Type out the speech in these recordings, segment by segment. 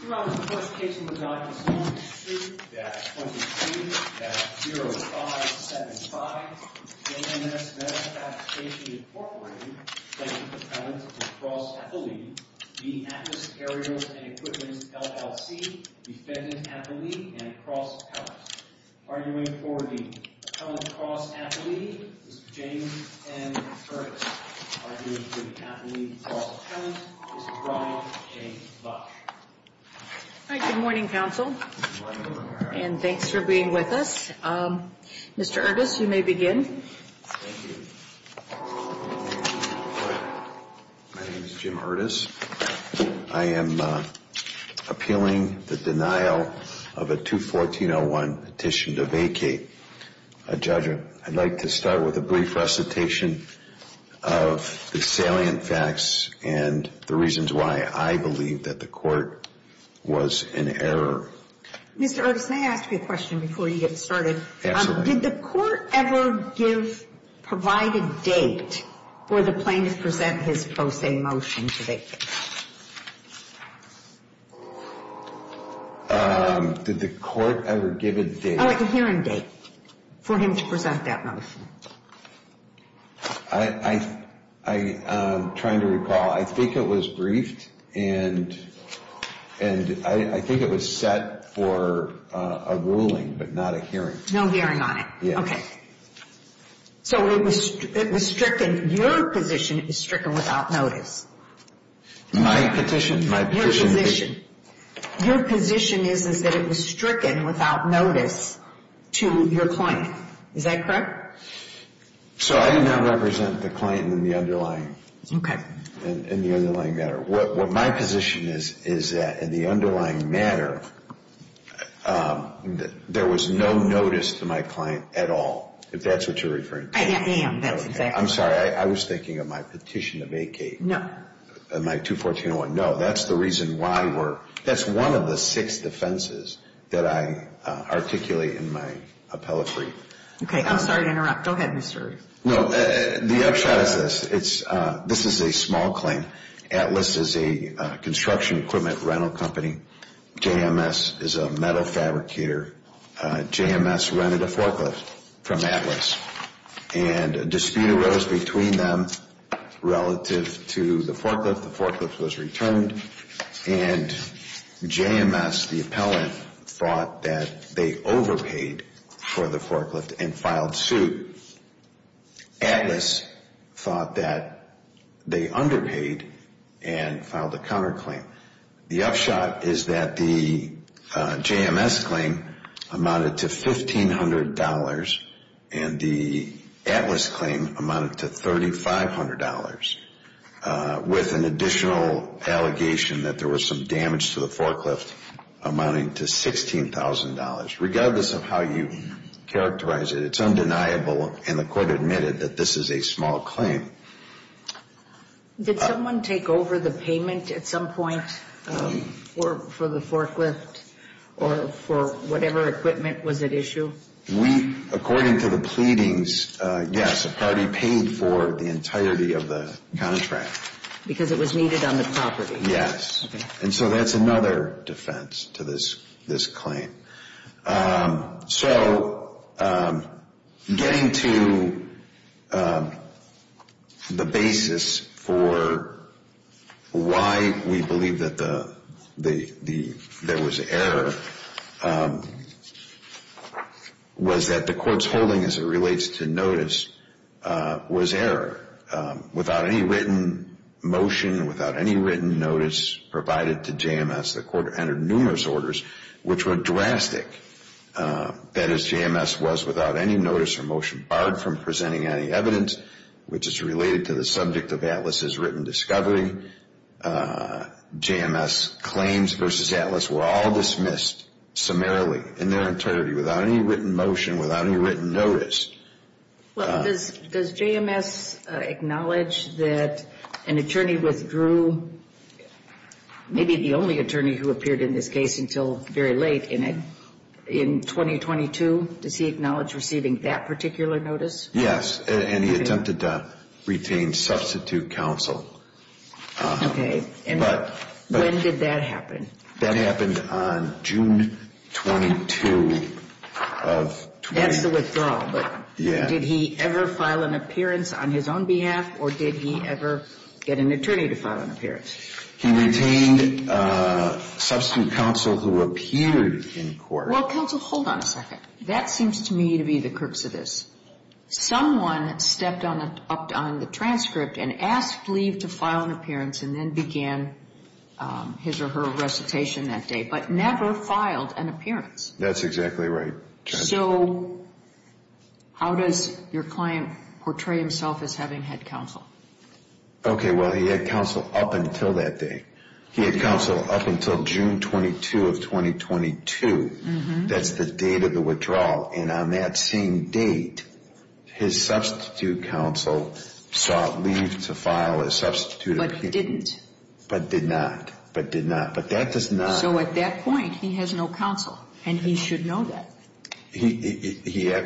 Throughout the course of casing the documents on issue, Draft 23, Draft 0575, JMS Metal Fabrication, Inc., defendant appellant, Mr. Cross Appellee, v. Atlas Aerials & Equipment, LLC, defendant appellee and cross appellant. Arguing for the appellant, cross appellee, Mr. James M. Curtis. Arguing for the appellant, cross appellant, Mr. Brian J. Lush. All right, good morning, counsel, and thanks for being with us. Mr. Ertis, you may begin. Thank you. My name is Jim Ertis. I am appealing the denial of a 214-01 petition to vacate a judgment. I'd like to start with a brief recitation of the salient facts and the reasons why I believe that the court was in error. Mr. Ertis, may I ask you a question before you get started? Absolutely. Did the court ever give, provide a date for the plaintiff to present his post-a motion to vacate? Did the court ever give a date? Oh, a hearing date for him to present that motion. I'm trying to recall. I think it was briefed, and I think it was set for a ruling but not a hearing. No hearing on it. Yeah. Okay. So it was stricken. Your position is stricken without notice. My petition? Your position. Your position is that it was stricken without notice to your client. Is that correct? Correct. So I now represent the client in the underlying matter. What my position is is that in the underlying matter, there was no notice to my client at all, if that's what you're referring to. I am. That's exactly right. I'm sorry. I was thinking of my petition to vacate. No. My 214-01. No. That's the reason why we're, that's one of the six defenses that I articulate in my appellate brief. Okay. I'm sorry to interrupt. Go ahead, Mr. No. The upshot is this. This is a small claim. Atlas is a construction equipment rental company. JMS is a metal fabricator. JMS rented a forklift from Atlas, and a dispute arose between them relative to the forklift. The forklift was returned, and JMS, the appellant, thought that they overpaid for the forklift and filed suit. Atlas thought that they underpaid and filed a counterclaim. The upshot is that the JMS claim amounted to $1,500, and the Atlas claim amounted to $3,500, with an additional allegation that there was some damage to the forklift amounting to $16,000. Regardless of how you characterize it, it's undeniable, and the court admitted, that this is a small claim. Did someone take over the payment at some point for the forklift or for whatever equipment was at issue? We, according to the pleadings, yes, a party paid for the entirety of the contract. Because it was needed on the property? Yes. And so that's another defense to this claim. So getting to the basis for why we believe that there was error was that the court's holding, as it relates to notice, was error. Without any written motion, without any written notice provided to JMS, the court entered numerous orders which were drastic. That is, JMS was without any notice or motion barred from presenting any evidence, which is related to the subject of Atlas' written discovery. JMS claims versus Atlas were all dismissed summarily, in their entirety, without any written motion, without any written notice. Well, does JMS acknowledge that an attorney withdrew, maybe the only attorney who appeared in this case until very late in it, in 2022? Does he acknowledge receiving that particular notice? Yes, and he attempted to retain substitute counsel. Okay, and when did that happen? That happened on June 22 of... That's the withdrawal. Yeah. But did he ever file an appearance on his own behalf, or did he ever get an attorney to file an appearance? He retained substitute counsel who appeared in court. Well, counsel, hold on a second. That seems to me to be the crux of this. Someone stepped up on the transcript and asked Lee to file an appearance and then began his or her recitation that day, but never filed an appearance. That's exactly right. So how does your client portray himself as having had counsel? Okay, well, he had counsel up until that day. He had counsel up until June 22 of 2022. That's the date of the withdrawal. And on that same date, his substitute counsel sought Lee to file a substitute appearance. But didn't. But did not. But did not. But that does not...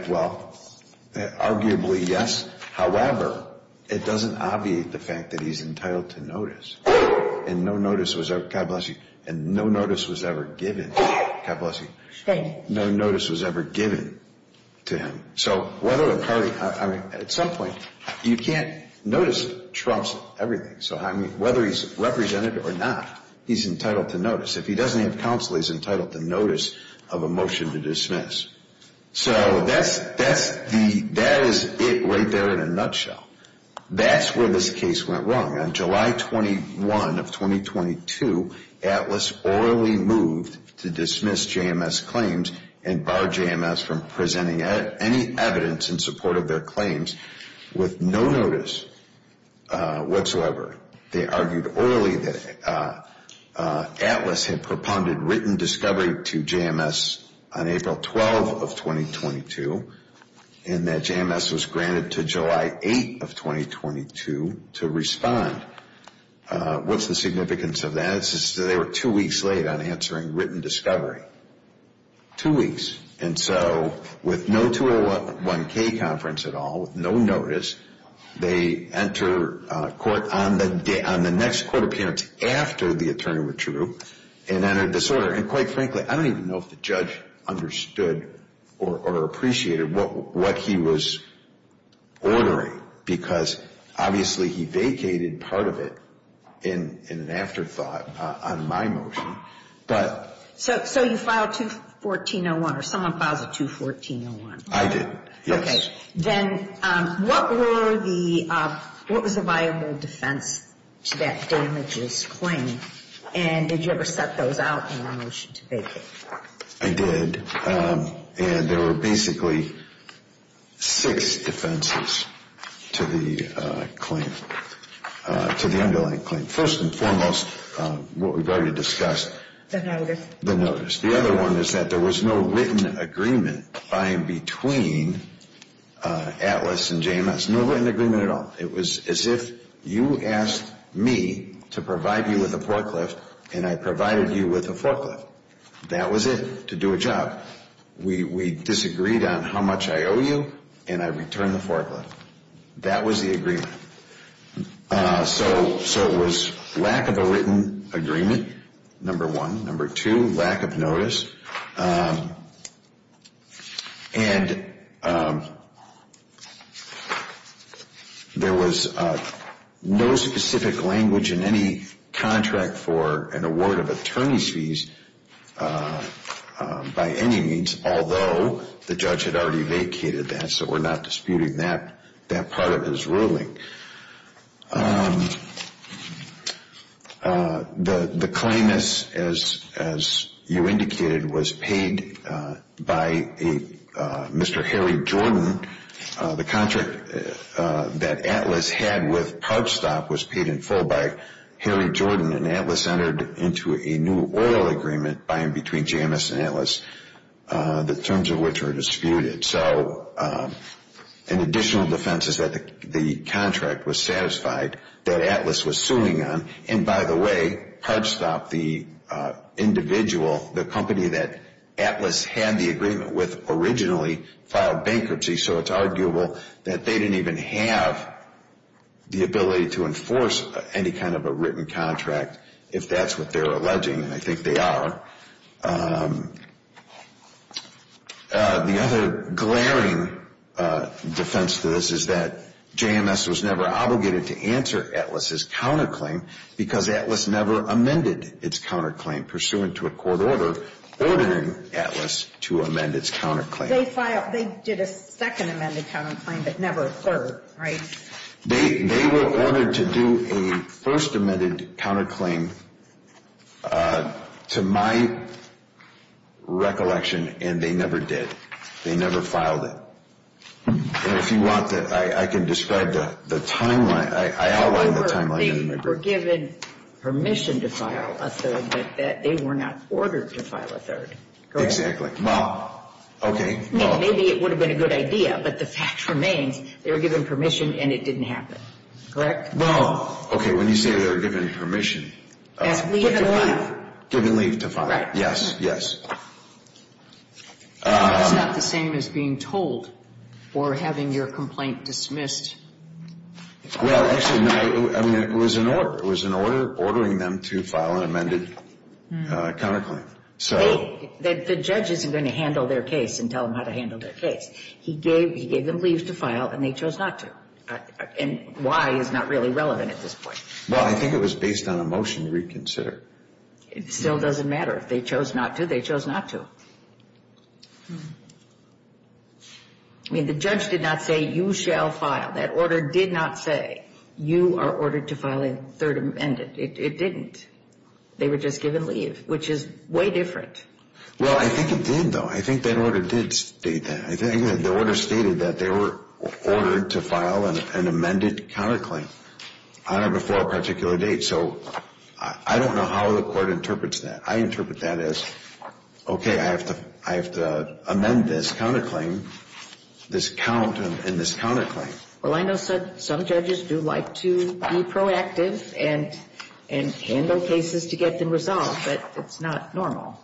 Well, arguably, yes. However, it doesn't obviate the fact that he's entitled to notice. And no notice was ever... God bless you. And no notice was ever given. God bless you. Thank you. No notice was ever given to him. So whether a party... I mean, at some point, you can't notice Trump's everything. So, I mean, whether he's represented or not, he's entitled to notice. If he doesn't have counsel, he's entitled to notice of a motion to dismiss. So that is it right there in a nutshell. That's where this case went wrong. On July 21 of 2022, Atlas orally moved to dismiss JMS claims and bar JMS from presenting any evidence in support of their claims with no notice whatsoever. They argued orally that Atlas had propounded written discovery to JMS on April 12 of 2022 and that JMS was granted to July 8 of 2022 to respond. What's the significance of that? They were two weeks late on answering written discovery. Two weeks. And so with no 201K conference at all, with no notice, they enter court on the next court appearance after the attorney withdrew and entered disorder. And quite frankly, I don't even know if the judge understood or appreciated what he was ordering because obviously he vacated part of it in an afterthought on my motion. So you filed 214-01 or someone filed a 214-01? I did, yes. Okay. Then what was the viable defense to that damages claim? And did you ever set those out in your motion to vacate? I did. And there were basically six defenses to the claim, to the underlying claim. First and foremost, what we've already discussed. The notice. The notice. The other one is that there was no written agreement between Atlas and JMS. No written agreement at all. It was as if you asked me to provide you with a forklift and I provided you with a forklift. That was it, to do a job. We disagreed on how much I owe you and I returned the forklift. That was the agreement. So it was lack of a written agreement, number one. Number two, lack of notice. And there was no specific language in any contract for an award of attorney's fees by any means, although the judge had already vacated that, so we're not disputing that part of his ruling. The claim is, as you indicated, was paid by Mr. Harry Jordan. The contract that Atlas had with PubStop was paid in full by Harry Jordan, and Atlas entered into a new oil agreement between JMS and Atlas, the terms of which are disputed. So an additional defense is that the contract was satisfied that Atlas was suing on. And, by the way, PubStop, the individual, the company that Atlas had the agreement with, originally filed bankruptcy, so it's arguable that they didn't even have the ability to enforce any kind of a written contract, if that's what they're alleging, and I think they are. The other glaring defense to this is that JMS was never obligated to answer Atlas's counterclaim because Atlas never amended its counterclaim, pursuant to a court order ordering Atlas to amend its counterclaim. They filed, they did a second amended counterclaim, but never a third, right? They were ordered to do a first amended counterclaim, to my recollection, and they never did. They never filed it. And if you want, I can describe the timeline. I outlined the timeline. They were given permission to file a third, but they were not ordered to file a third. Exactly. Well, okay. Maybe it would have been a good idea, but the fact remains they were given permission and it didn't happen. Correct? Well, okay, when you say they were given permission. Given what? Given leave to file it. Right. Yes, yes. It's not the same as being told or having your complaint dismissed. Well, actually, no. I mean, it was an order. It was an order ordering them to file an amended counterclaim. The judge isn't going to handle their case and tell them how to handle their case. He gave them leave to file and they chose not to. And why is not really relevant at this point. Well, I think it was based on a motion to reconsider. It still doesn't matter. If they chose not to, they chose not to. I mean, the judge did not say you shall file. That order did not say you are ordered to file a third amended. It didn't. They were just given leave, which is way different. Well, I think it did, though. I think that order did state that. The order stated that they were ordered to file an amended counterclaim on or before a particular date. So I don't know how the court interprets that. I interpret that as, okay, I have to amend this counterclaim, this count and this counterclaim. Well, I know some judges do like to be proactive and handle cases to get them resolved, but it's not normal.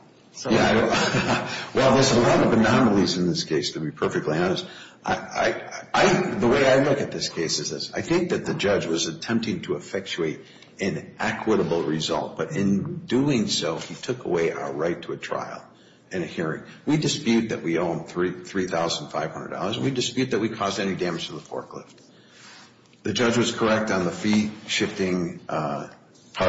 Yeah. Well, there's a lot of anomalies in this case, to be perfectly honest. The way I look at this case is this. I think that the judge was attempting to effectuate an equitable result. But in doing so, he took away our right to a trial and a hearing. We dispute that we owe him $3,500. We dispute that we caused any damage to the forklift. The judge was correct on the fee-shifting part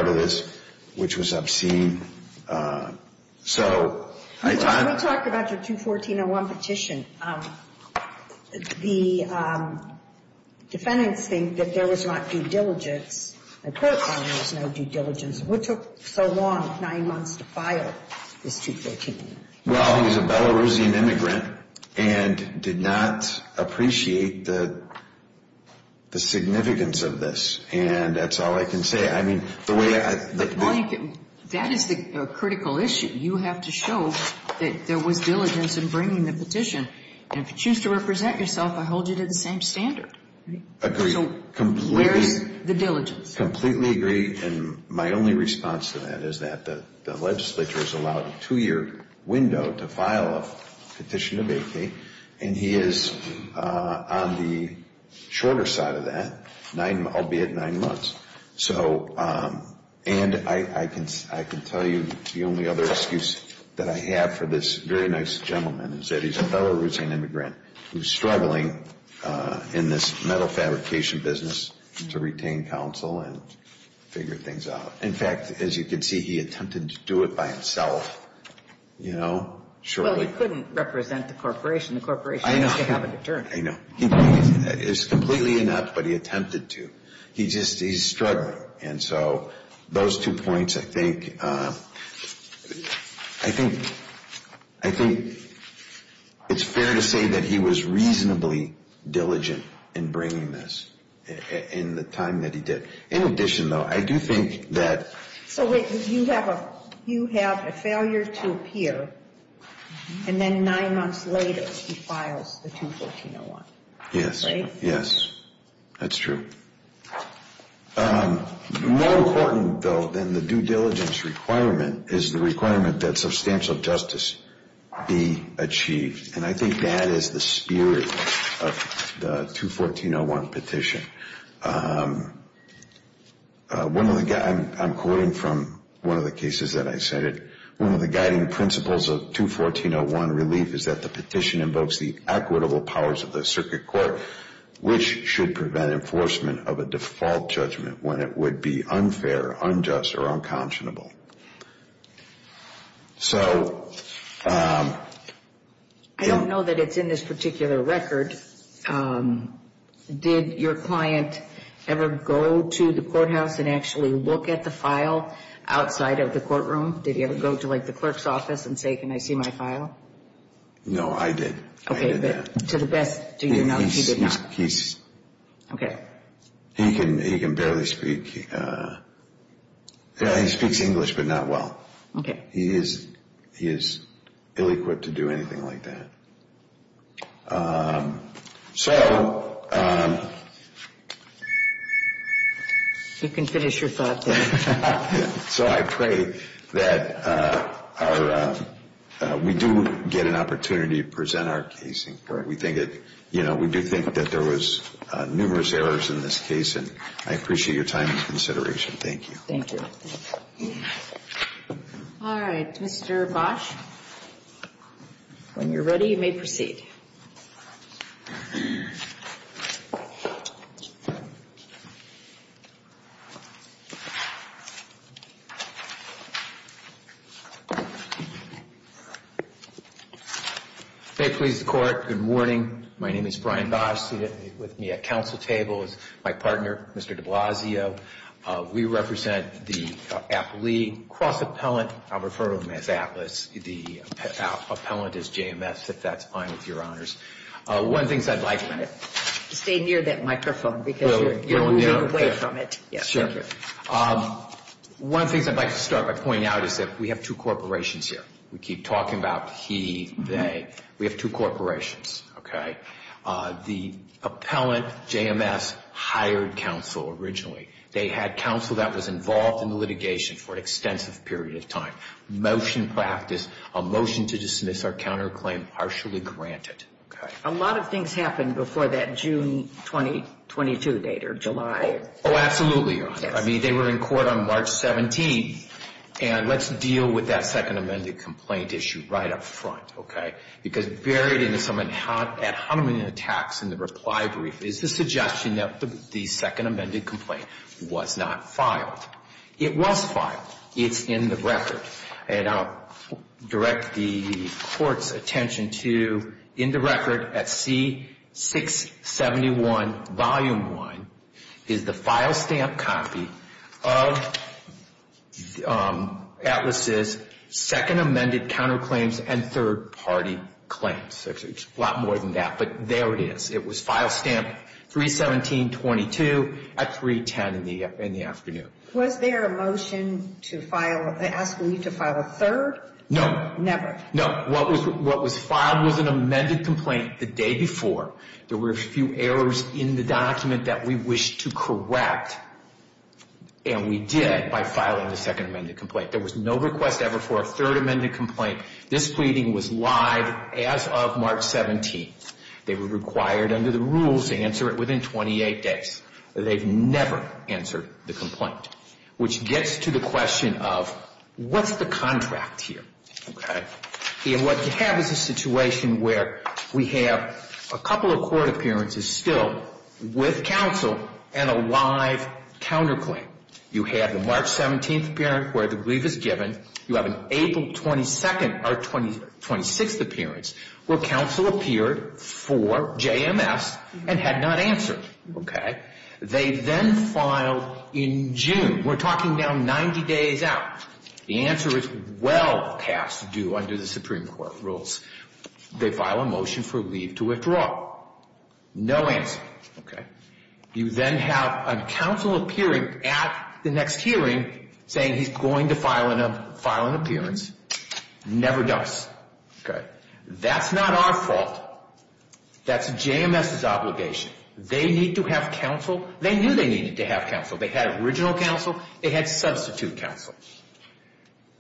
of this, which was obscene. So I thought we talked about your 214-01 petition. The defendants think that there was not due diligence. The court found there was no due diligence. What took so long, nine months, to file this 214? Well, he was a Belarusian immigrant and did not appreciate the significance of this. And that's all I can say. I mean, the way I— Mike, that is the critical issue. You have to show that there was diligence in bringing the petition. And if you choose to represent yourself, I hold you to the same standard. Agreed. So where is the diligence? Completely agree. And my only response to that is that the legislature has allowed a two-year window to file a petition to vacate, and he is on the shorter side of that, albeit nine months. And I can tell you the only other excuse that I have for this very nice gentleman is that he's a Belarusian immigrant who's struggling in this metal fabrication business to retain counsel and figure things out. In fact, as you can see, he attempted to do it by himself, you know, shortly. Well, he couldn't represent the corporation. The corporation doesn't have an attorney. I know. It's completely inept, but he attempted to. He's struggling. And so those two points, I think—I think it's fair to say that he was reasonably diligent in bringing this in the time that he did. In addition, though, I do think that— So wait. You have a failure to appear, and then nine months later he files the 214-01. Yes. Right? Yes. That's true. More important, though, than the due diligence requirement is the requirement that substantial justice be achieved, and I think that is the spirit of the 214-01 petition. I'm quoting from one of the cases that I cited. One of the guiding principles of 214-01 relief is that the petition invokes the equitable powers of the circuit court, which should prevent enforcement of a default judgment when it would be unfair, unjust, or unconscionable. So— I don't know that it's in this particular record. Did your client ever go to the courthouse and actually look at the file outside of the courtroom? Did he ever go to, like, the clerk's office and say, can I see my file? No, I did. I did that. Okay, but to the best, do you know that he did not? He's— Okay. He can barely speak—he speaks English, but not well. Okay. He is ill-equipped to do anything like that. So— You can finish your thought there. So I pray that our—we do get an opportunity to present our case in court. We think that, you know, we do think that there was numerous errors in this case, and I appreciate your time and consideration. Thank you. Thank you. All right, Mr. Bosch. When you're ready, you may proceed. May it please the Court, good morning. My name is Brian Bosch. Seated with me at counsel table is my partner, Mr. de Blasio. We represent the Appellee Cross-Appellant. I'll refer to them as ATLAS. The appellant is JMS, if that's fine with your honors. One of the things I'd like— Stay near that microphone because you're moving away from it. Sure. One of the things I'd like to start by pointing out is that we have two corporations here. We keep talking about he, they. We have two corporations, okay? The appellant, JMS, hired counsel originally. They had counsel that was involved in the litigation for an extensive period of time. Motion practice, a motion to dismiss or counterclaim partially granted, okay? A lot of things happened before that June 2022 date or July. Oh, absolutely, your honor. I mean, they were in court on March 17th, and let's deal with that second amended complaint issue right up front, okay? Because buried in some ad hominem attacks in the reply brief is the suggestion that the second amended complaint was not filed. It was filed. It's in the record. And I'll direct the court's attention to in the record at C-671, Volume 1, is the file stamp copy of Atlas' second amended counterclaims and third party claims. It's a lot more than that, but there it is. It was file stamped 3-17-22 at 3-10 in the afternoon. Was there a motion to file, asking you to file a third? No. Never? No. What was filed was an amended complaint the day before. There were a few errors in the document that we wished to correct, and we did by filing the second amended complaint. There was no request ever for a third amended complaint. This pleading was live as of March 17th. They were required under the rules to answer it within 28 days. They've never answered the complaint, which gets to the question of what's the contract here, okay? And what you have is a situation where we have a couple of court appearances still with counsel and a live counterclaim. You have the March 17th appearance where the brief is given. You have an April 22nd or 26th appearance where counsel appeared for JMS and had not answered, okay? They then filed in June. We're talking now 90 days out. The answer is well past due under the Supreme Court rules. They file a motion for leave to withdraw. No answer, okay? You then have a counsel appearing at the next hearing saying he's going to file an appearance. Never does, okay? That's not our fault. That's JMS's obligation. They need to have counsel. They knew they needed to have counsel. They had original counsel. They had substitute counsel.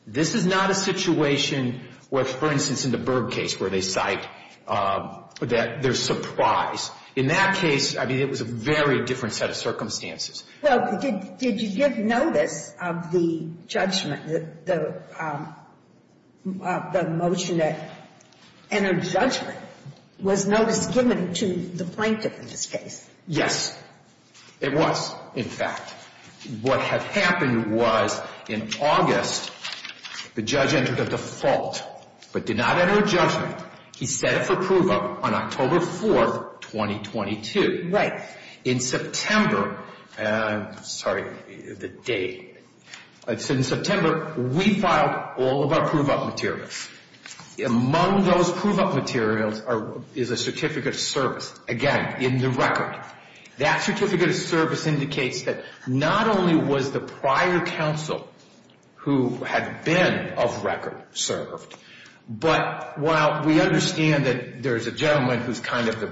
This is not a situation where, for instance, in the Berg case where they cite that there's surprise. In that case, I mean, it was a very different set of circumstances. Well, did you give notice of the judgment, the motion that entered judgment? Was notice given to the plaintiff in this case? Yes. It was, in fact. What had happened was in August, the judge entered a default but did not enter a judgment. He set it for prove-up on October 4th, 2022. Right. In September, sorry, the date. In September, we filed all of our prove-up materials. Among those prove-up materials is a certificate of service, again, in the record. That certificate of service indicates that not only was the prior counsel who had been of record served, but while we understand that there's a gentleman who's kind of the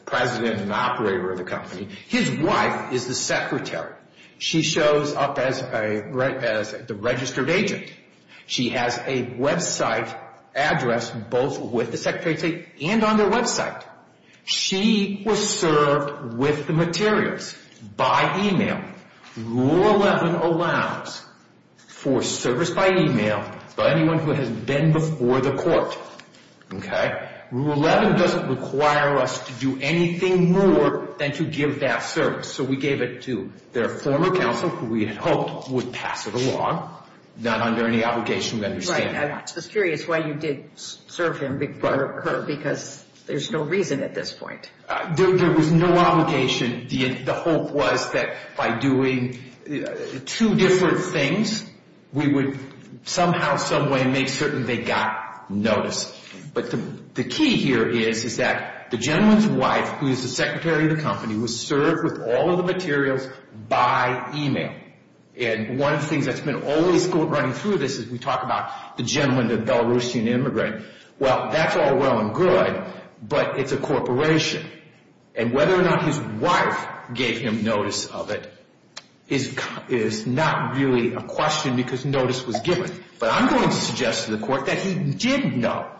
president and operator of the company, his wife is the secretary. She shows up as the registered agent. She has a website address both with the secretary and on their website. She was served with the materials by email. Rule 11 allows for service by email by anyone who has been before the court. Okay? Rule 11 doesn't require us to do anything more than to give that service. So we gave it to their former counsel, who we had hoped would pass it along, not under any obligation of understanding. I'm just curious why you did serve him before her because there's no reason at this point. There was no obligation. The hope was that by doing two different things, we would somehow, someway make certain they got notice. But the key here is that the gentleman's wife, who is the secretary of the company, was served with all of the materials by email. And one of the things that's been always running through this is we talk about the gentleman, the Belarusian immigrant. Well, that's all well and good, but it's a corporation. And whether or not his wife gave him notice of it is not really a question because notice was given. But I'm going to suggest to the court that he did know.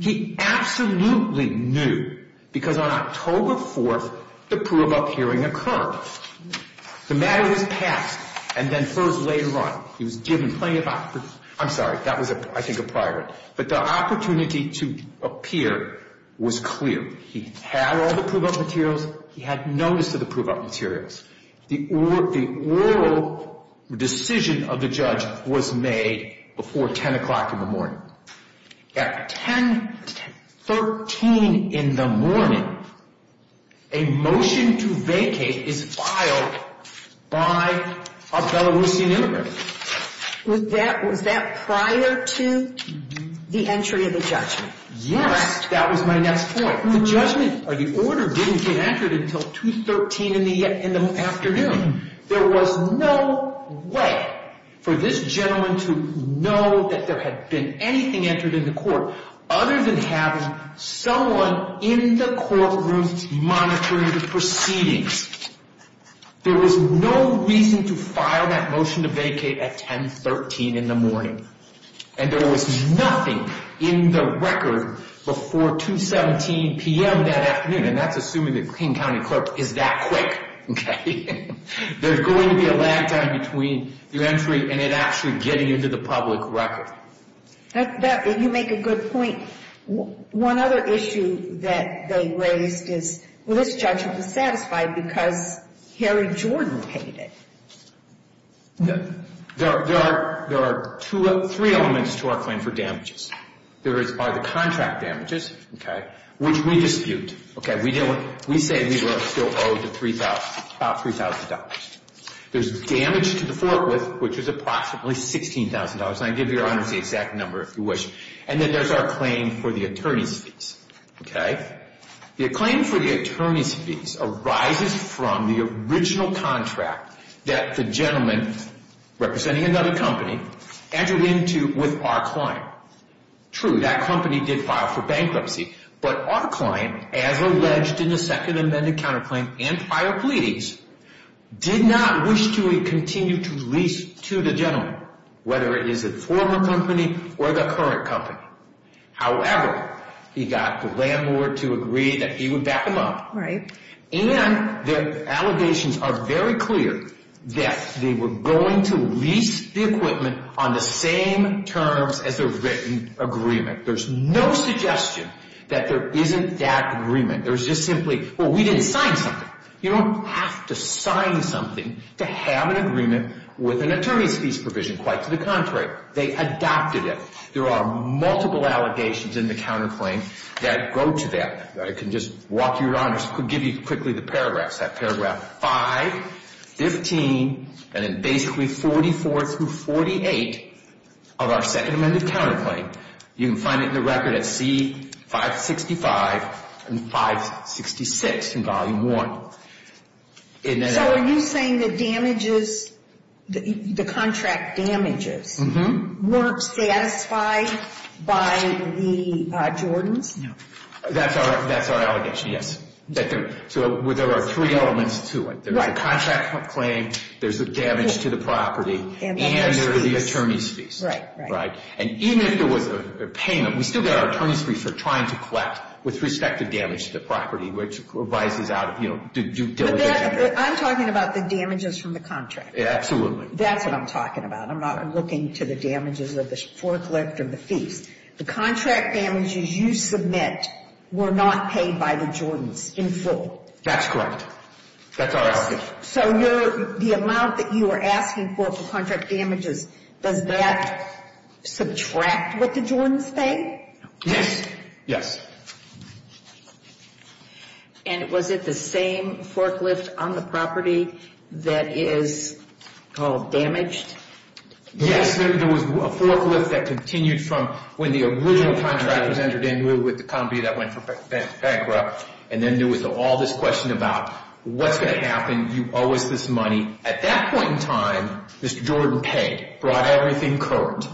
He absolutely knew because on October 4th, the Pruebok hearing occurred. The matter was passed and then first laid run. He was given plenty of opportunity. I'm sorry, that was, I think, a prior. But the opportunity to appear was clear. He had all the Pruebok materials. He had notice of the Pruebok materials. The oral decision of the judge was made before 10 o'clock in the morning. At 10, 13 in the morning, a motion to vacate is filed by a Belarusian immigrant. Was that prior to the entry of the judgment? Yes. That was my next point. The judgment or the order didn't get entered until 2, 13 in the afternoon. There was no way for this gentleman to know that there had been anything entered in the court other than having someone in the courtroom monitoring the proceedings. There was no reason to file that motion to vacate at 10, 13 in the morning. There was nothing in the record before 2, 17 p.m. that afternoon. That's assuming the King County clerk is that quick. There's going to be a lag time between the entry and it actually getting into the public record. You make a good point. One other issue that they raised is this judgment was satisfied because Harry Jordan paid it. There are three elements to our claim for damages. There are the contract damages, which we dispute. We say we were still owed the $3,000. There's damage to the Fort Worth, which is approximately $16,000. I can give your honors the exact number if you wish. And then there's our claim for the attorney's fees. The claim for the attorney's fees arises from the original contract that the gentleman, representing another company, entered into with our client. True, that company did file for bankruptcy. But our client, as alleged in the second amended counterclaim and prior pleadings, did not wish to continue to lease to the gentleman, whether it is a former company or the current company. However, he got the landlord to agree that he would back him up. And the allegations are very clear that they were going to lease the equipment on the same terms as a written agreement. There's no suggestion that there isn't that agreement. There's just simply, well, we didn't sign something. You don't have to sign something to have an agreement with an attorney's fees provision. Quite to the contrary, they adopted it. There are multiple allegations in the counterclaim that go to that. I can just walk you around and give you quickly the paragraphs. I have paragraph 5, 15, and then basically 44 through 48 of our second amended counterclaim. You can find it in the record at C-565 and 566 in volume 1. So are you saying the damages, the contract damages, weren't satisfied by the Jordans? No. That's our allegation, yes. So there are three elements to it. There's the contract claim, there's the damage to the property, and there are the attorney's fees. Right. And even if there was a payment, we still got our attorney's fees for trying to collect with respect to damage to the property, which revises out of, you know, due diligence. I'm talking about the damages from the contract. That's what I'm talking about. I'm not looking to the damages of the forklift or the fees. The contract damages you submit were not paid by the Jordans in full. That's correct. That's our allegation. So the amount that you are asking for for contract damages, does that subtract what the Jordans pay? Yes. Yes. And was it the same forklift on the property that is called damaged? Yes. There was a forklift that continued from when the original contract was entered in with the company that went bankrupt, and then there was all this question about what's going to happen, you owe us this money. At that point in time, Mr. Jordan paid, brought everything current.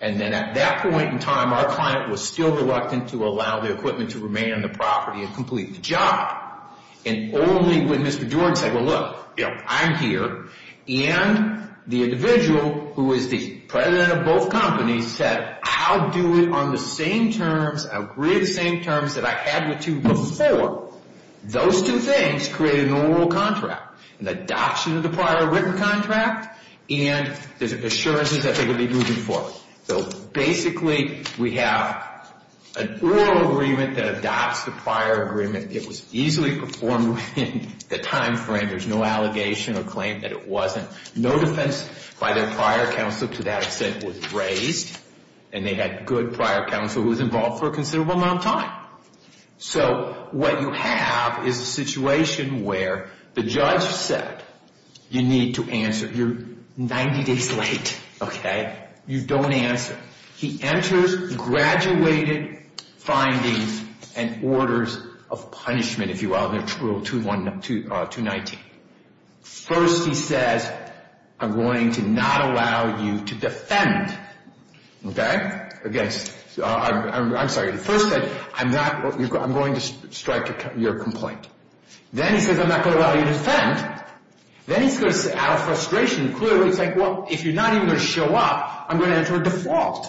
And then at that point in time, our client was still reluctant to allow the equipment to remain on the property and complete the job. And only when Mr. Jordan said, well, look, you know, I'm here, and the individual who is the president of both companies said, I'll do it on the same terms. I'll create the same terms that I had with you before. Those two things created an oral contract. The adoption of the prior written contract and the assurances that they would be moving forward. So basically, we have an oral agreement that adopts the prior agreement. It was easily performed within the time frame. There's no allegation or claim that it wasn't. No defense by their prior counsel to that extent was raised. And they had good prior counsel who was involved for a considerable amount of time. So what you have is a situation where the judge said, you need to answer. You're 90 days late. You don't answer. He enters graduated findings and orders of punishment, if you will, in Rule 219. First, he says, I'm going to not allow you to defend. Okay? Again, I'm sorry. First, he said, I'm going to strike your complaint. Then he says, I'm not going to allow you to defend. Then he's out of frustration. Clearly, he's like, well, if you're not even going to show up, I'm going to enter a default.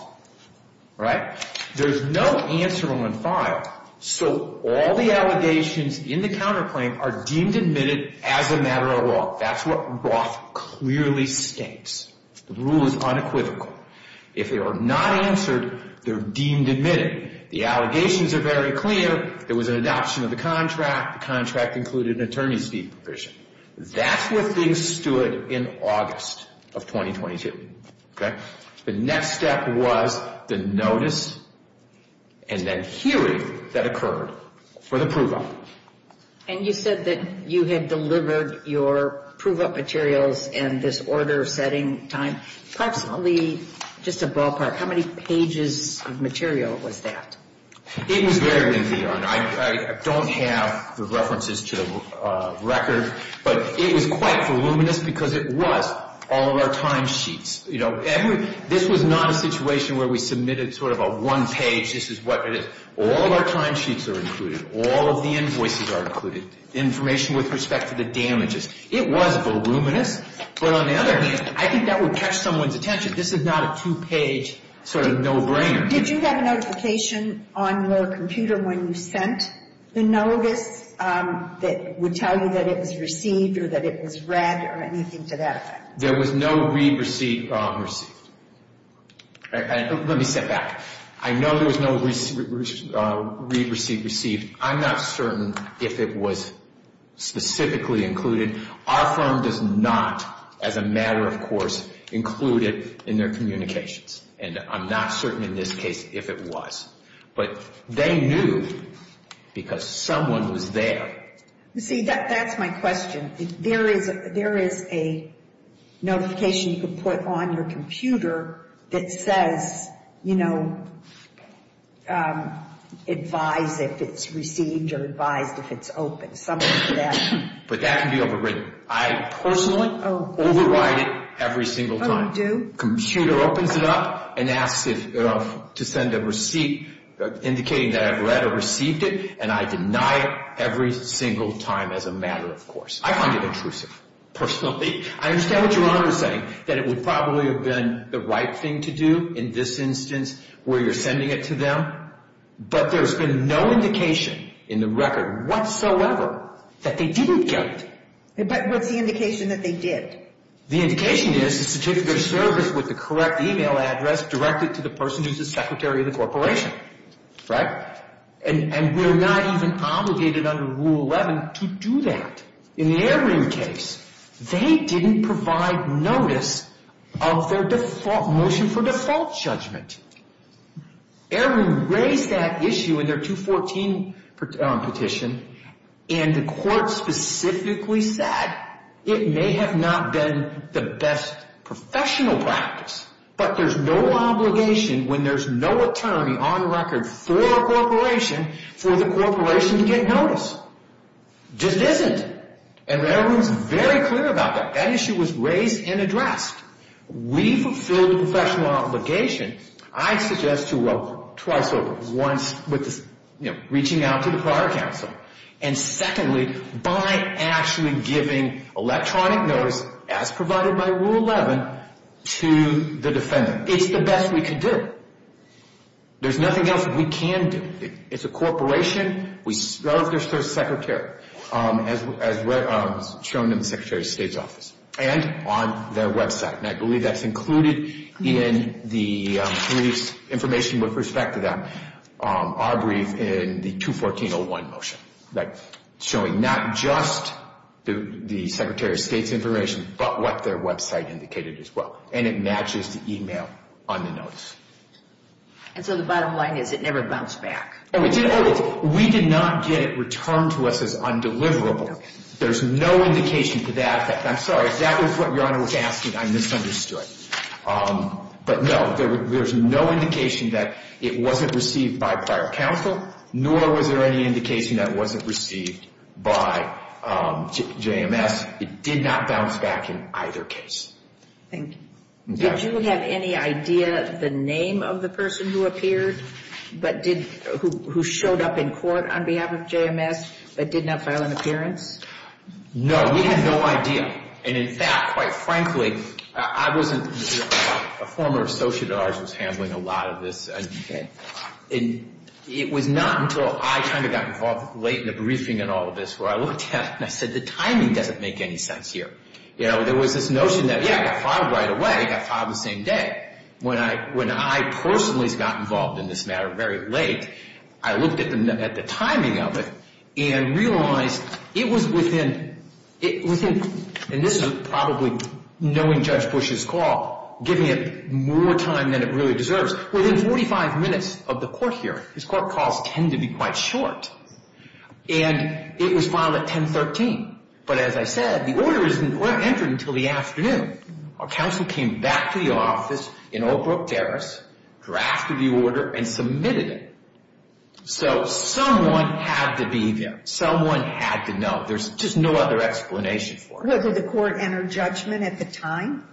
Right? There's no answer on the file. So all the allegations in the counterclaim are deemed admitted as a matter of law. That's what Roth clearly states. The rule is unequivocal. If they are not answered, they're deemed admitted. The allegations are very clear. There was an adoption of the contract. The contract included an attorney's fee provision. That's where things stood in August of 2022. Okay? The next step was the notice and then hearing that occurred for the prove-up. And you said that you had delivered your prove-up materials in this order-setting time. Approximately, just a ballpark, how many pages of material was that? It was greater than the honor. I don't have the references to the record. But it was quite voluminous because it was all of our timesheets. You know, this was not a situation where we submitted sort of a one-page, this is what it is. All of our timesheets are included. All of the invoices are included. Information with respect to the damages. It was voluminous. But on the other hand, I think that would catch someone's attention. This is not a two-page sort of no-brainer. Did you have a notification on your computer when you sent the notice that would tell you that it was received or that it was read or anything to that effect? There was no read received or unreceived. Let me step back. I know there was no read received received. I'm not certain if it was specifically included. Our firm does not, as a matter of course, include it in their communications. And I'm not certain in this case if it was. But they knew because someone was there. See, that's my question. There is a notification you can put on your computer that says, you know, advise if it's received or advise if it's open. But that can be overwritten. I personally override it every single time. Computer opens it up and asks to send a receipt indicating that I've read or received it, and I deny it every single time as a matter of course. I find it intrusive, personally. I understand what Your Honor is saying, that it would probably have been the right thing to do in this instance where you're sending it to them. But there's been no indication in the record whatsoever that they didn't get it. But what's the indication that they did? The indication is the certificate of service with the correct e-mail address directed to the person who's the secretary of the corporation. Right? And we're not even obligated under Rule 11 to do that. In the Ehren case, they didn't provide notice of their motion for default judgment. Ehren raised that issue in their 214 petition, and the court specifically said it may have not been the best professional practice, but there's no obligation when there's no attorney on record for a corporation for the corporation to get notice. Just isn't. And the Ehren is very clear about that. That issue was raised and addressed. We fulfill the professional obligation, I suggest, to roll twice over. One, reaching out to the prior counsel. And secondly, by actually giving electronic notice as provided by Rule 11 to the defendant. It's the best we can do. There's nothing else that we can do. It's a corporation. We serve their secretary, as shown in the secretary of state's office, and on their website. And I believe that's included in the brief's information with respect to that, our brief in the 214-01 motion, showing not just the secretary of state's information, but what their website indicated as well. And it matches the email on the notice. And so the bottom line is it never bounced back. We did not get it returned to us as undeliverable. There's no indication to that. I'm sorry, if that was what Your Honor was asking, I misunderstood. But, no, there's no indication that it wasn't received by prior counsel, nor was there any indication that it wasn't received by JMS. It did not bounce back in either case. Thank you. Did you have any idea of the name of the person who appeared, who showed up in court on behalf of JMS, but did not file an appearance? No, we had no idea. And, in fact, quite frankly, I wasn't a former associate at ours who was handling a lot of this. Okay. It was not until I kind of got involved late in the briefing in all of this where I looked at it and I said, the timing doesn't make any sense here. You know, there was this notion that, yeah, it got filed right away, it got filed the same day. When I personally got involved in this matter very late, I looked at the timing of it and realized it was within, and this is probably knowing Judge Bush's call, giving it more time than it really deserves. Within 45 minutes of the court hearing, his court calls tend to be quite short, and it was filed at 1013. But, as I said, the order isn't entered until the afternoon. Our counsel came back to the office in Oak Brook Terrace, drafted the order, and submitted it. So someone had to be there. Someone had to know. There's just no other explanation for it. Did the court enter judgment at the time?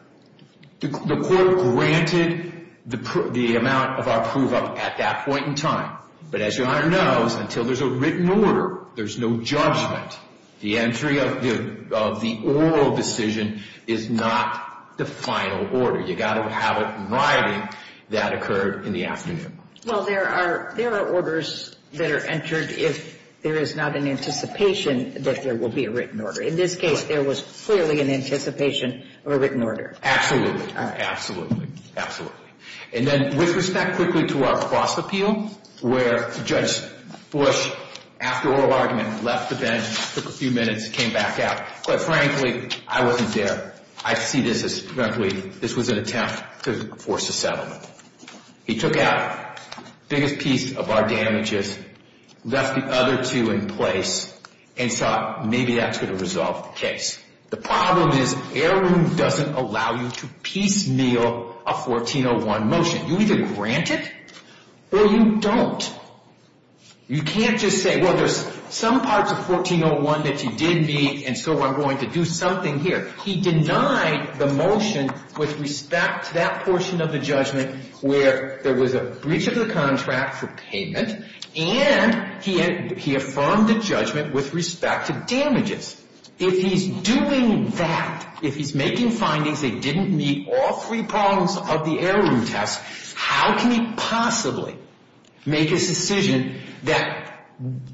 The court granted the amount of our prove-up at that point in time. But, as Your Honor knows, until there's a written order, there's no judgment. The entry of the oral decision is not the final order. You've got to have it in writing that occurred in the afternoon. Well, there are orders that are entered if there is not an anticipation that there will be a written order. In this case, there was clearly an anticipation of a written order. Absolutely. Absolutely. Absolutely. And then, with respect quickly to our cross-appeal, where Judge Bush, after oral argument, left the bench, took a few minutes, came back out. Quite frankly, I wasn't there. I see this as, frankly, this was an attempt to force a settlement. He took out the biggest piece of our damages, left the other two in place, and thought, maybe that's going to resolve the case. The problem is heirloom doesn't allow you to piecemeal a 1401 motion. You either grant it or you don't. You can't just say, well, there's some parts of 1401 that you did me, and so I'm going to do something here. He denied the motion with respect to that portion of the judgment where there was a breach of the contract for payment, and he affirmed the judgment with respect to damages. If he's doing that, if he's making findings that didn't meet all three problems of the heirloom test, how can he possibly make a decision that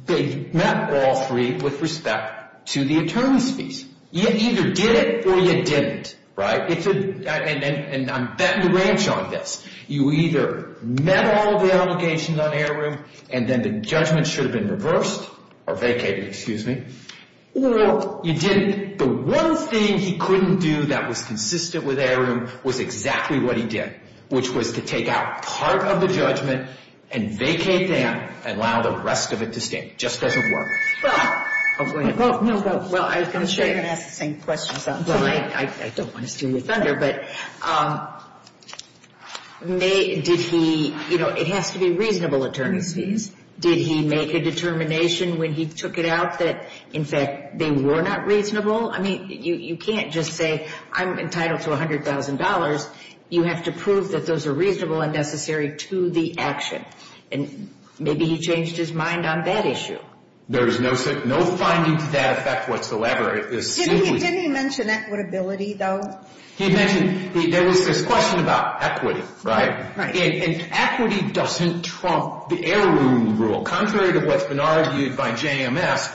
met all three with respect to the attorneys' fees? You either did it or you didn't. And I'm betting the ranch on this. You either met all the allegations on heirloom, and then the judgment should have been reversed or vacated, excuse me, or you didn't. The one thing he couldn't do that was consistent with heirloom was exactly what he did, which was to take out part of the judgment and vacate that and allow the rest of it to stay. It just doesn't work. Well, I was going to say I'm going to ask the same question. I don't want to steal your thunder. But did he, you know, it has to be reasonable attorneys' fees. Did he make a determination when he took it out that, in fact, they were not reasonable? I mean, you can't just say I'm entitled to $100,000. You have to prove that those are reasonable and necessary to the action. And maybe he changed his mind on that issue. There is no finding to that effect whatsoever. Didn't he mention equitability, though? He mentioned there was this question about equity, right? And equity doesn't trump the heirloom rule, contrary to what's been argued by JMS.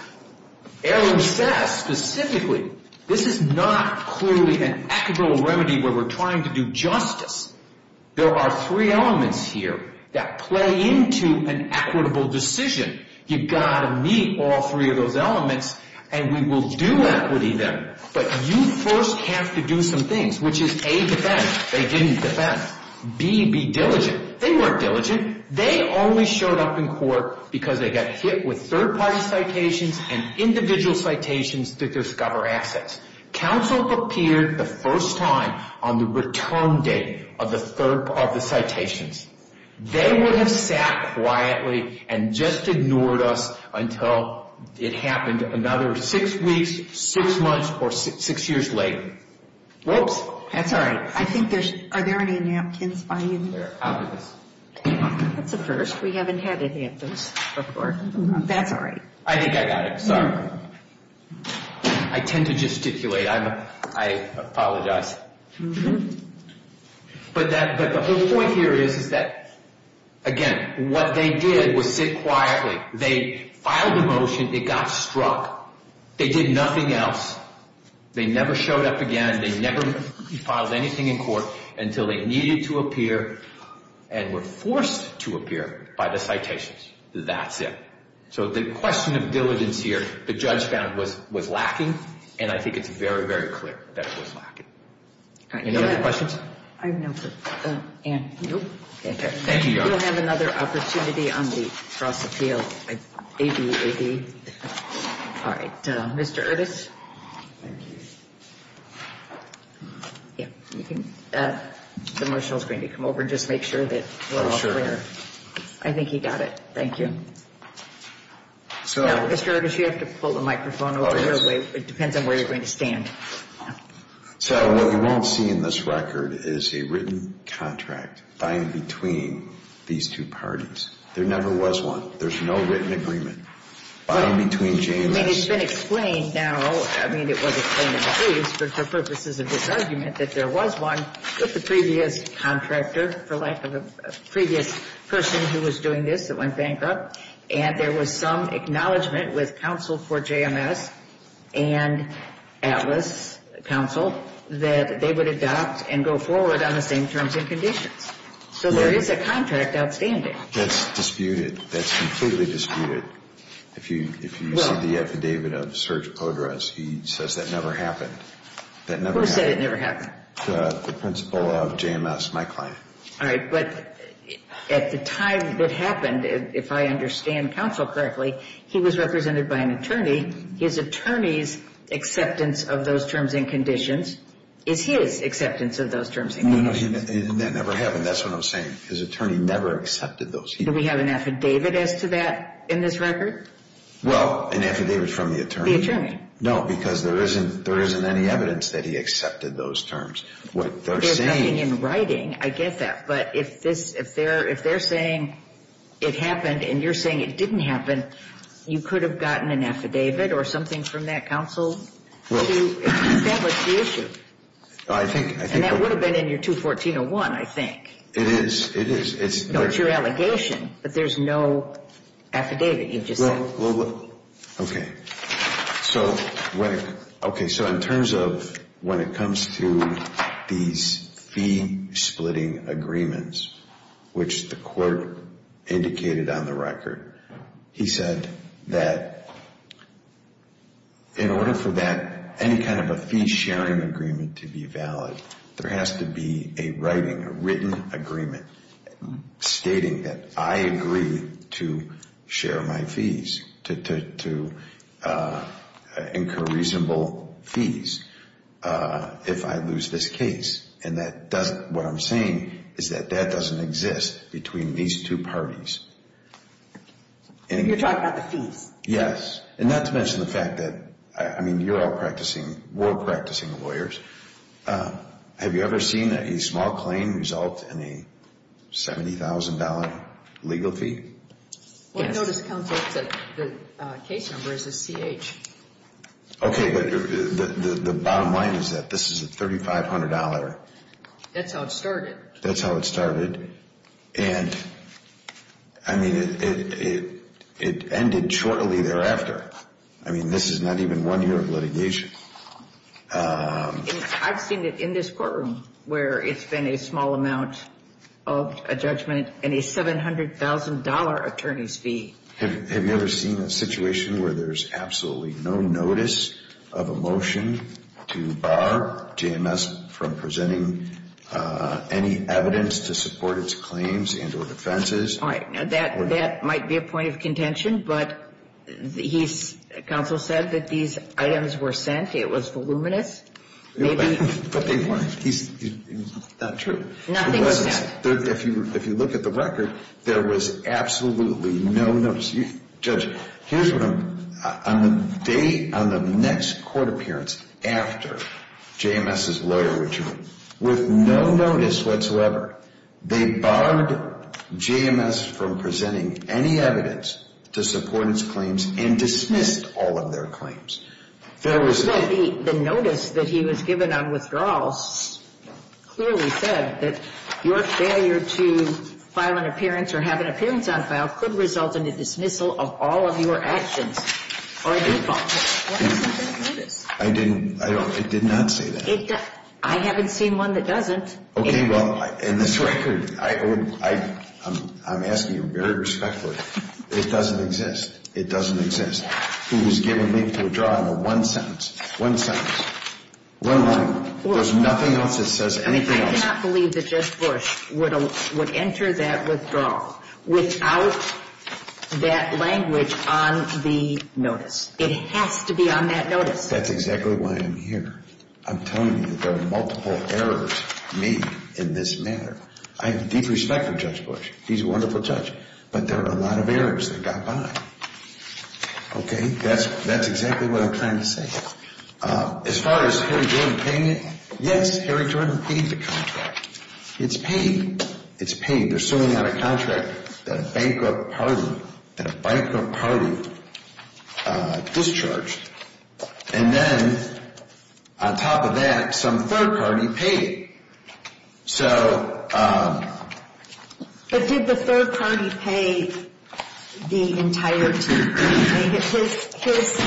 Heirloom says specifically this is not clearly an equitable remedy where we're trying to do justice. There are three elements here that play into an equitable decision. You've got to meet all three of those elements, and we will do equity then. But you first have to do some things, which is, A, defend. They didn't defend. B, be diligent. They weren't diligent. They only showed up in court because they got hit with third-party citations and individual citations to discover assets. Counsel appeared the first time on the return date of the citations. They would have sat quietly and just ignored us until it happened another six weeks, six months, or six years later. Whoops. That's all right. I think there's – are there any napkins by you? They're out of this. That's a first. We haven't had any of those before. That's all right. I think I got it. Sorry. I tend to gesticulate. I apologize. But the whole point here is that, again, what they did was sit quietly. They filed a motion. It got struck. They did nothing else. They never showed up again. They never filed anything in court until they needed to appear and were forced to appear by the citations. That's it. So the question of diligence here the judge found was lacking, and I think it's very, very clear that it was lacking. Any other questions? I have no further. Thank you, Your Honor. We'll have another opportunity on the cross-appeal. A-B, A-B. All right. Mr. Erdos? Thank you. Yeah, you can – the marshal's going to come over and just make sure that we're all clear. I think he got it. Thank you. So – No, Mr. Erdos, you have to pull the microphone away. It depends on where you're going to stand. So what you won't see in this record is a written contract by and between these two parties. There never was one. There's no written agreement by and between JMS. I mean, it's been explained now – I mean, it was explained in the case, but for purposes of this argument, that there was one with the previous contractor for lack of a previous person who was doing this that went bankrupt, and there was some acknowledgment with counsel for JMS and Atlas, counsel, that they would adopt and go forward on the same terms and conditions. So there is a contract outstanding. That's disputed. That's completely disputed. If you see the affidavit of Serge Podras, he says that never happened. That never happened. Who said it never happened? The principal of JMS, my client. All right, but at the time it happened, if I understand counsel correctly, he was represented by an attorney. His attorney's acceptance of those terms and conditions is his acceptance of those terms and conditions. No, no, that never happened. That's what I'm saying. His attorney never accepted those. Do we have an affidavit as to that in this record? Well, an affidavit from the attorney. No, because there isn't any evidence that he accepted those terms. They're putting it in writing. I get that. But if they're saying it happened and you're saying it didn't happen, you could have gotten an affidavit or something from that counsel to establish the issue. And that would have been in your 214-01, I think. It is, it is. No, it's your allegation, but there's no affidavit you just said. Okay, so in terms of when it comes to these fee-splitting agreements, which the court indicated on the record, he said that in order for any kind of a fee-sharing agreement to be valid, there has to be a writing, a written agreement stating that I agree to share my fees, to incur reasonable fees if I lose this case. And what I'm saying is that that doesn't exist between these two parties. You're talking about the fees? Yes. And not to mention the fact that, I mean, you're all practicing, we're all practicing lawyers. Have you ever seen a small claim result in a $70,000 legal fee? Yes. Well, I noticed, counsel, that the case number is a CH. Okay, but the bottom line is that this is a $3,500. That's how it started. That's how it started. And, I mean, it ended shortly thereafter. I mean, this is not even one year of litigation. I mean, I've seen it in this courtroom where it's been a small amount of a judgment and a $700,000 attorney's fee. Have you ever seen a situation where there's absolutely no notice of a motion to bar JMS from presenting any evidence to support its claims and or defenses? All right, now that might be a point of contention, but he's, counsel, said that these items were sent. It was voluminous. But he's not true. Nothing was sent. If you look at the record, there was absolutely no notice. Judge, here's what I'm, on the day, on the next court appearance after JMS' lawyer ritual, with no notice whatsoever, they barred JMS from presenting any evidence to support its claims and dismissed all of their claims. The notice that he was given on withdrawal clearly said that your failure to file an appearance or have an appearance on file could result in the dismissal of all of your actions or a default. I didn't, I did not say that. I haven't seen one that doesn't. Okay, well, in this record, I'm asking you very respectfully, it doesn't exist. It doesn't exist. Who was given leave to withdraw in one sentence, one sentence, one line. There's nothing else that says anything else. I cannot believe that Judge Bush would enter that withdrawal without that language on the notice. It has to be on that notice. That's exactly why I'm here. I'm telling you that there are multiple errors made in this matter. I have deep respect for Judge Bush. He's a wonderful judge. But there are a lot of errors that got by. Okay, that's exactly what I'm trying to say. As far as Harry Jordan paying it, yes, Harry Jordan paid the contract. It's paid. It's paid. They're suing out a contract that a bankrupt party, that a bankrupt party discharged. And then, on top of that, some third party paid it. So. But did the third party pay the entirety? His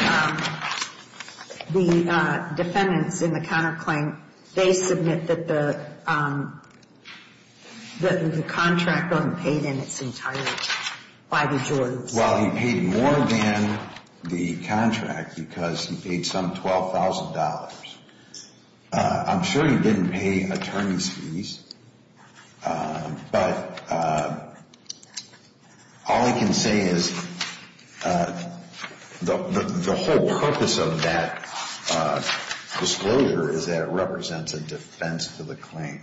defendants in the counterclaim, they submit that the contract wasn't paid in its entirety by the Jordans. Well, he paid more than the contract because he paid some $12,000. I'm sure he didn't pay attorney's fees. But all I can say is the whole purpose of that disclosure is that it represents a defense to the claim,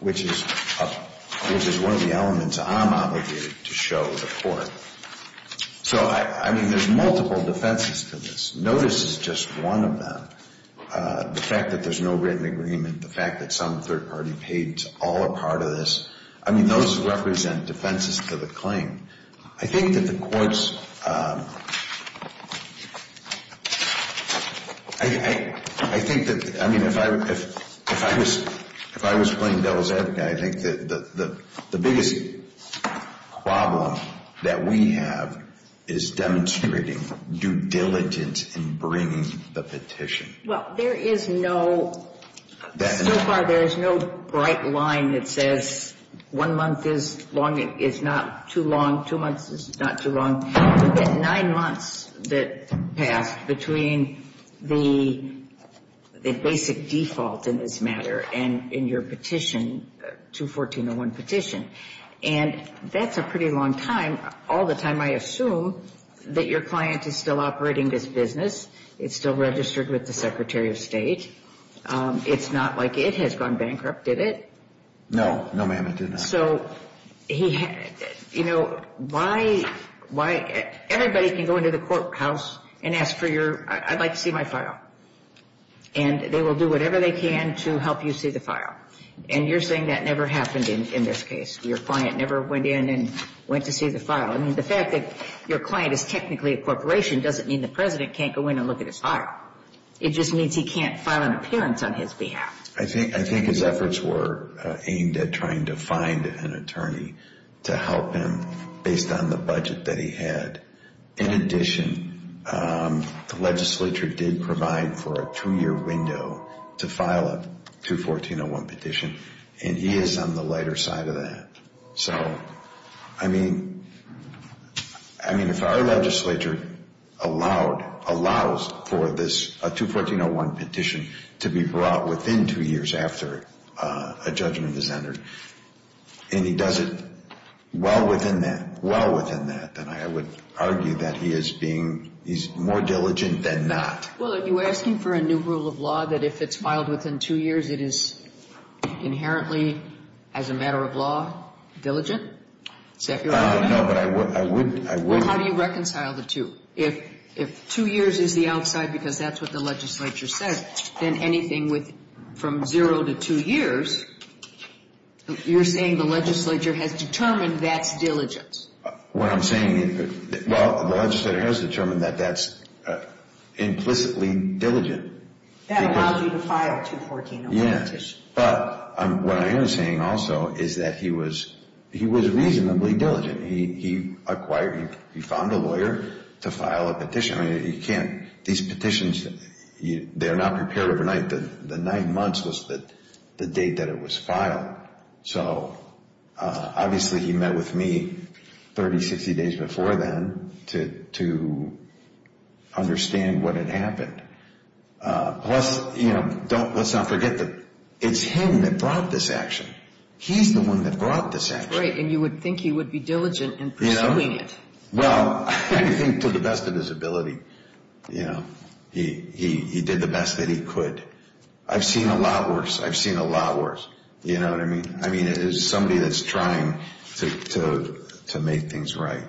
which is one of the elements I'm obligated to show the court. So, I mean, there's multiple defenses to this. No, this is just one of them. The fact that there's no written agreement, the fact that some third party paid all a part of this, I mean, those represent defenses to the claim. I think that the courts, I think that, I mean, if I was playing devil's advocate, I think that the biggest problem that we have is demonstrating due diligence in bringing the petition. Well, there is no, so far there is no bright line that says one month is not too long, two months is not too long. You get nine months that passed between the basic default in this matter and in your petition, 214.01 petition. And that's a pretty long time. All the time I assume that your client is still operating this business, it's still registered with the Secretary of State. It's not like it has gone bankrupt, did it? No, no, ma'am, it did not. So, you know, why, everybody can go into the courthouse and ask for your, I'd like to see my file. And they will do whatever they can to help you see the file. And you're saying that never happened in this case. Your client never went in and went to see the file. I mean, the fact that your client is technically a corporation doesn't mean the President can't go in and look at his file. It just means he can't file an appearance on his behalf. I think his efforts were aimed at trying to find an attorney to help him based on the budget that he had. In addition, the legislature did provide for a two-year window to file a 214.01 petition, and he is on the lighter side of that. So, I mean, if our legislature allowed, allows for this 214.01 petition to be brought within two years after a judgment is entered, and he does it well within that, well within that, then I would argue that he is being, he's more diligent than not. Well, are you asking for a new rule of law that if it's filed within two years, it is inherently, as a matter of law, diligent? No, but I would, I would. Well, how do you reconcile the two? If two years is the outside because that's what the legislature said, then anything from zero to two years, you're saying the legislature has determined that's diligence. What I'm saying, well, the legislature has determined that that's implicitly diligent. That allows you to file a 214.01 petition. Yeah, but what I am saying also is that he was, he was reasonably diligent. He acquired, he found a lawyer to file a petition. I mean, you can't, these petitions, they are not prepared overnight. The nine months was the date that it was filed. So, obviously, he met with me 30, 60 days before then to understand what had happened. Plus, you know, let's not forget that it's him that brought this action. He's the one that brought this action. Right, and you would think he would be diligent in pursuing it. Well, I think to the best of his ability, you know, he did the best that he could. I've seen a lot worse. I've seen a lot worse. You know what I mean? I mean, it is somebody that's trying to make things right.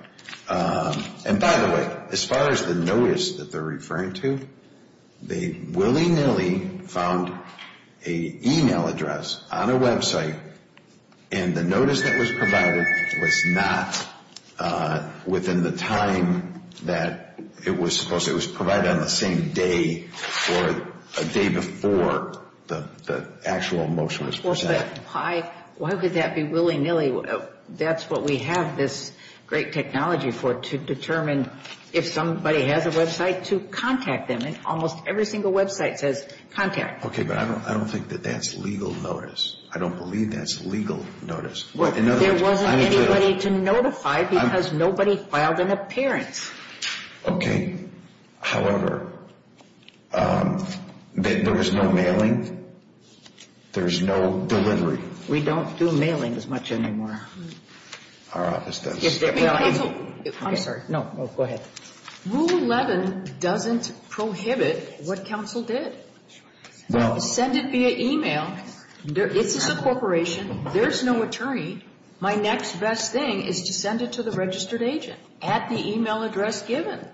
And, by the way, as far as the notice that they're referring to, they willy-nilly found an email address on a website, and the notice that was provided was not within the time that it was supposed to. It was not on the same day or a day before the actual motion was presented. Why would that be willy-nilly? That's what we have this great technology for, to determine if somebody has a website, to contact them. And almost every single website says contact. Okay, but I don't think that that's legal notice. I don't believe that's legal notice. There wasn't anybody to notify because nobody filed an appearance. Okay. However, there was no mailing. There's no delivery. We don't do mailing as much anymore. Our office does. I'm sorry. No, go ahead. Rule 11 doesn't prohibit what counsel did. No. Send it via email. This is a corporation. There's no attorney. My next best thing is to send it to the registered agent at the email address given.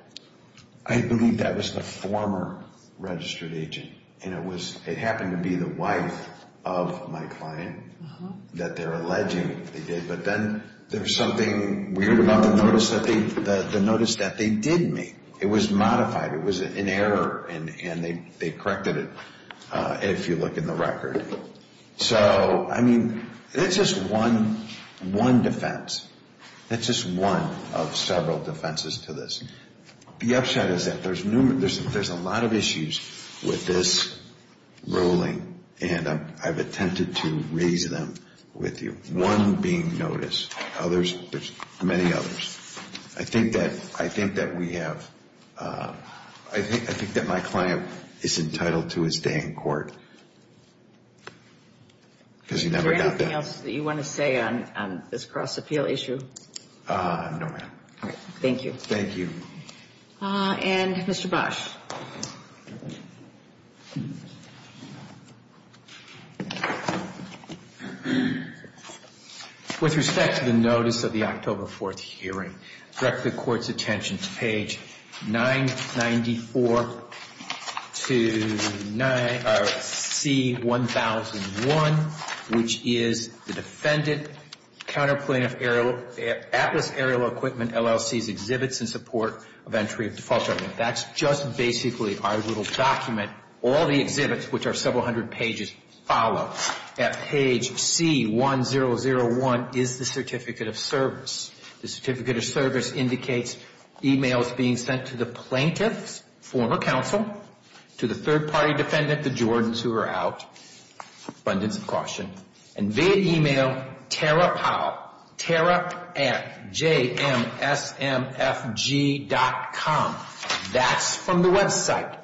I believe that was the former registered agent, and it happened to be the wife of my client that they're alleging they did. But then there's something weird about the notice that they did make. It was modified. It was an error, and they corrected it, if you look in the record. So, I mean, that's just one defense. That's just one of several defenses to this. The upside is that there's a lot of issues with this ruling, and I've attempted to raise them with you, one being notice. There's many others. I think that my client is entitled to his day in court because he never got that. Is there anything else that you want to say on this cross-appeal issue? No, ma'am. All right. Thank you. Thank you. And Mr. Bosch. With respect to the notice of the October 4th hearing, direct the court's attention to page 994-C-1001, which is the defendant counter plaintiff atlas aerial equipment LLC's exhibits in support of entry of default judgment. That's just basically our little document. All the exhibits, which are several hundred pages, follow. At page C-1001 is the certificate of service. The certificate of service indicates e-mails being sent to the plaintiffs, former counsel, to the third-party defendant, the Jordans who are out, abundance of caution, and via e-mail, Tara Powell, Tara at JMSMFG.com. That's from the website.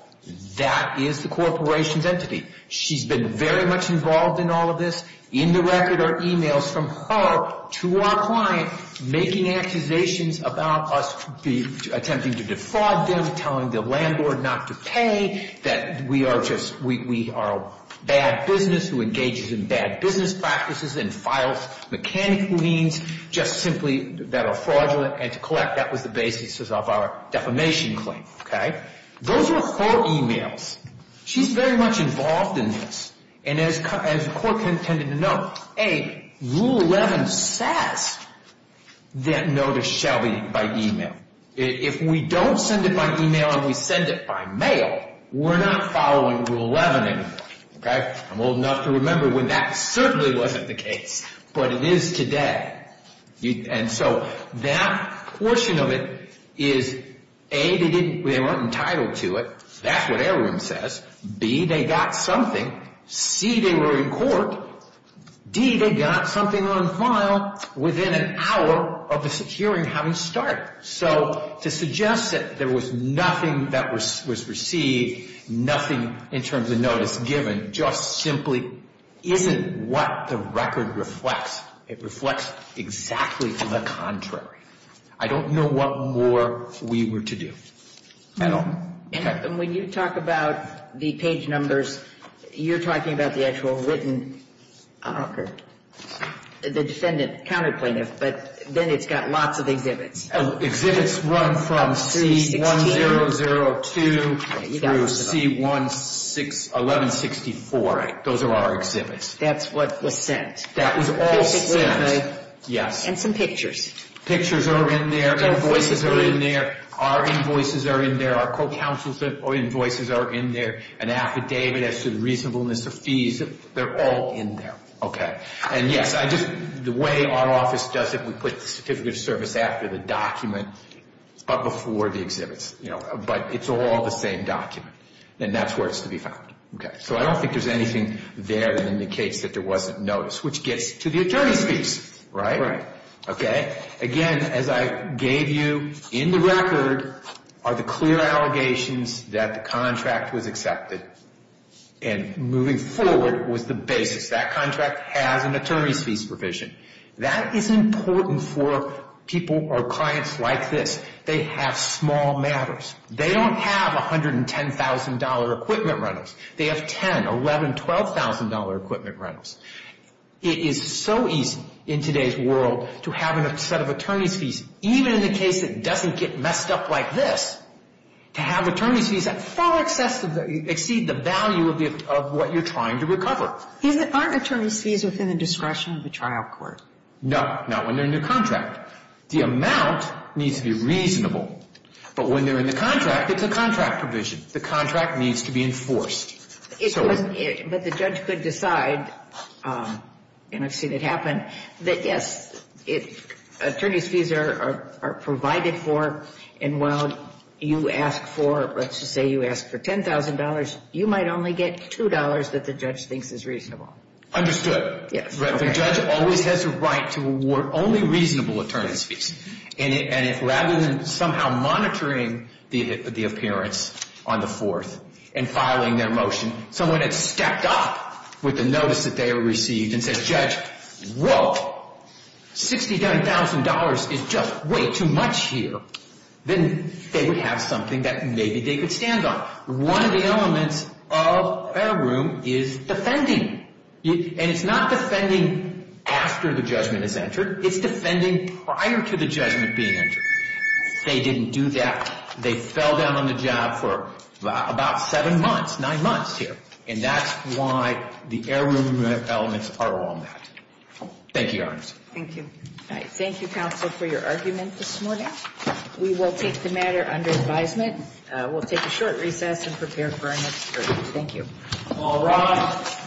That is the corporation's entity. She's been very much involved in all of this. In the record are e-mails from her to our client making accusations about us attempting to defraud them, telling the landlord not to pay, that we are a bad business who engages in bad business practices and files mechanical liens just simply that are fraudulent, and to collect. That was the basis of our defamation claim. Those were her e-mails. She's very much involved in this. And as the court contended to note, A, Rule 11 says that notice shall be by e-mail. If we don't send it by e-mail and we send it by mail, we're not following Rule 11 anymore. I'm old enough to remember when that certainly wasn't the case, but it is today. And so that portion of it is, A, they weren't entitled to it. That's what heirloom says. B, they got something. C, they were in court. D, they got something on file within an hour of the hearing having started. So to suggest that there was nothing that was received, nothing in terms of notice given, just simply isn't what the record reflects. It reflects exactly the contrary. I don't know what more we were to do at all. And when you talk about the page numbers, you're talking about the actual written, the defendant counter plaintiff, but then it's got lots of exhibits. Exhibits run from C-1002 through C-1164. Those are our exhibits. That's what was sent. That was all sent. And some pictures. Pictures are in there. Invoices are in there. Our invoices are in there. Our court counsel's invoices are in there. An affidavit as to the reasonableness of fees, they're all in there. And yes, the way our office does it, we put the certificate of service after the document, but before the exhibits. But it's all the same document. And that's where it's to be found. So I don't think there's anything there that indicates that there wasn't notice, which gets to the attorney's piece. Right? Okay? Again, as I gave you in the record, are the clear allegations that the contract was accepted. And moving forward was the basics. That contract has an attorney's fees provision. That is important for people or clients like this. They have small matters. They don't have $110,000 equipment rentals. They have $10,000, $11,000, $12,000 equipment rentals. It is so easy in today's world to have a set of attorney's fees, even in a case that doesn't get messed up like this, to have attorney's fees that far exceed the value of what you're trying to recover. Aren't attorney's fees within the discretion of the trial court? No. Not when they're in the contract. The amount needs to be reasonable. But when they're in the contract, it's a contract provision. The contract needs to be enforced. But the judge could decide, and I've seen it happen, that, yes, attorney's fees are provided for. And while you ask for, let's just say you ask for $10,000, you might only get $2 that the judge thinks is reasonable. Understood. The judge always has a right to award only reasonable attorney's fees. Rather than somehow monitoring the appearance on the 4th and filing their motion, someone had stepped up with the notice that they had received and said, Judge, whoa, $69,000 is just way too much here. Then they would have something that maybe they could stand on. One of the elements of a room is defending. And it's not defending after the judgment is entered. It's defending prior to the judgment being entered. They didn't do that. They fell down on the job for about seven months, nine months here. And that's why the air room elements are on that. Thank you, Your Honor. Thank you. All right. Thank you, counsel, for your argument this morning. We will take the matter under advisement. We'll take a short recess and prepare for our next hearing. Thank you. All rise.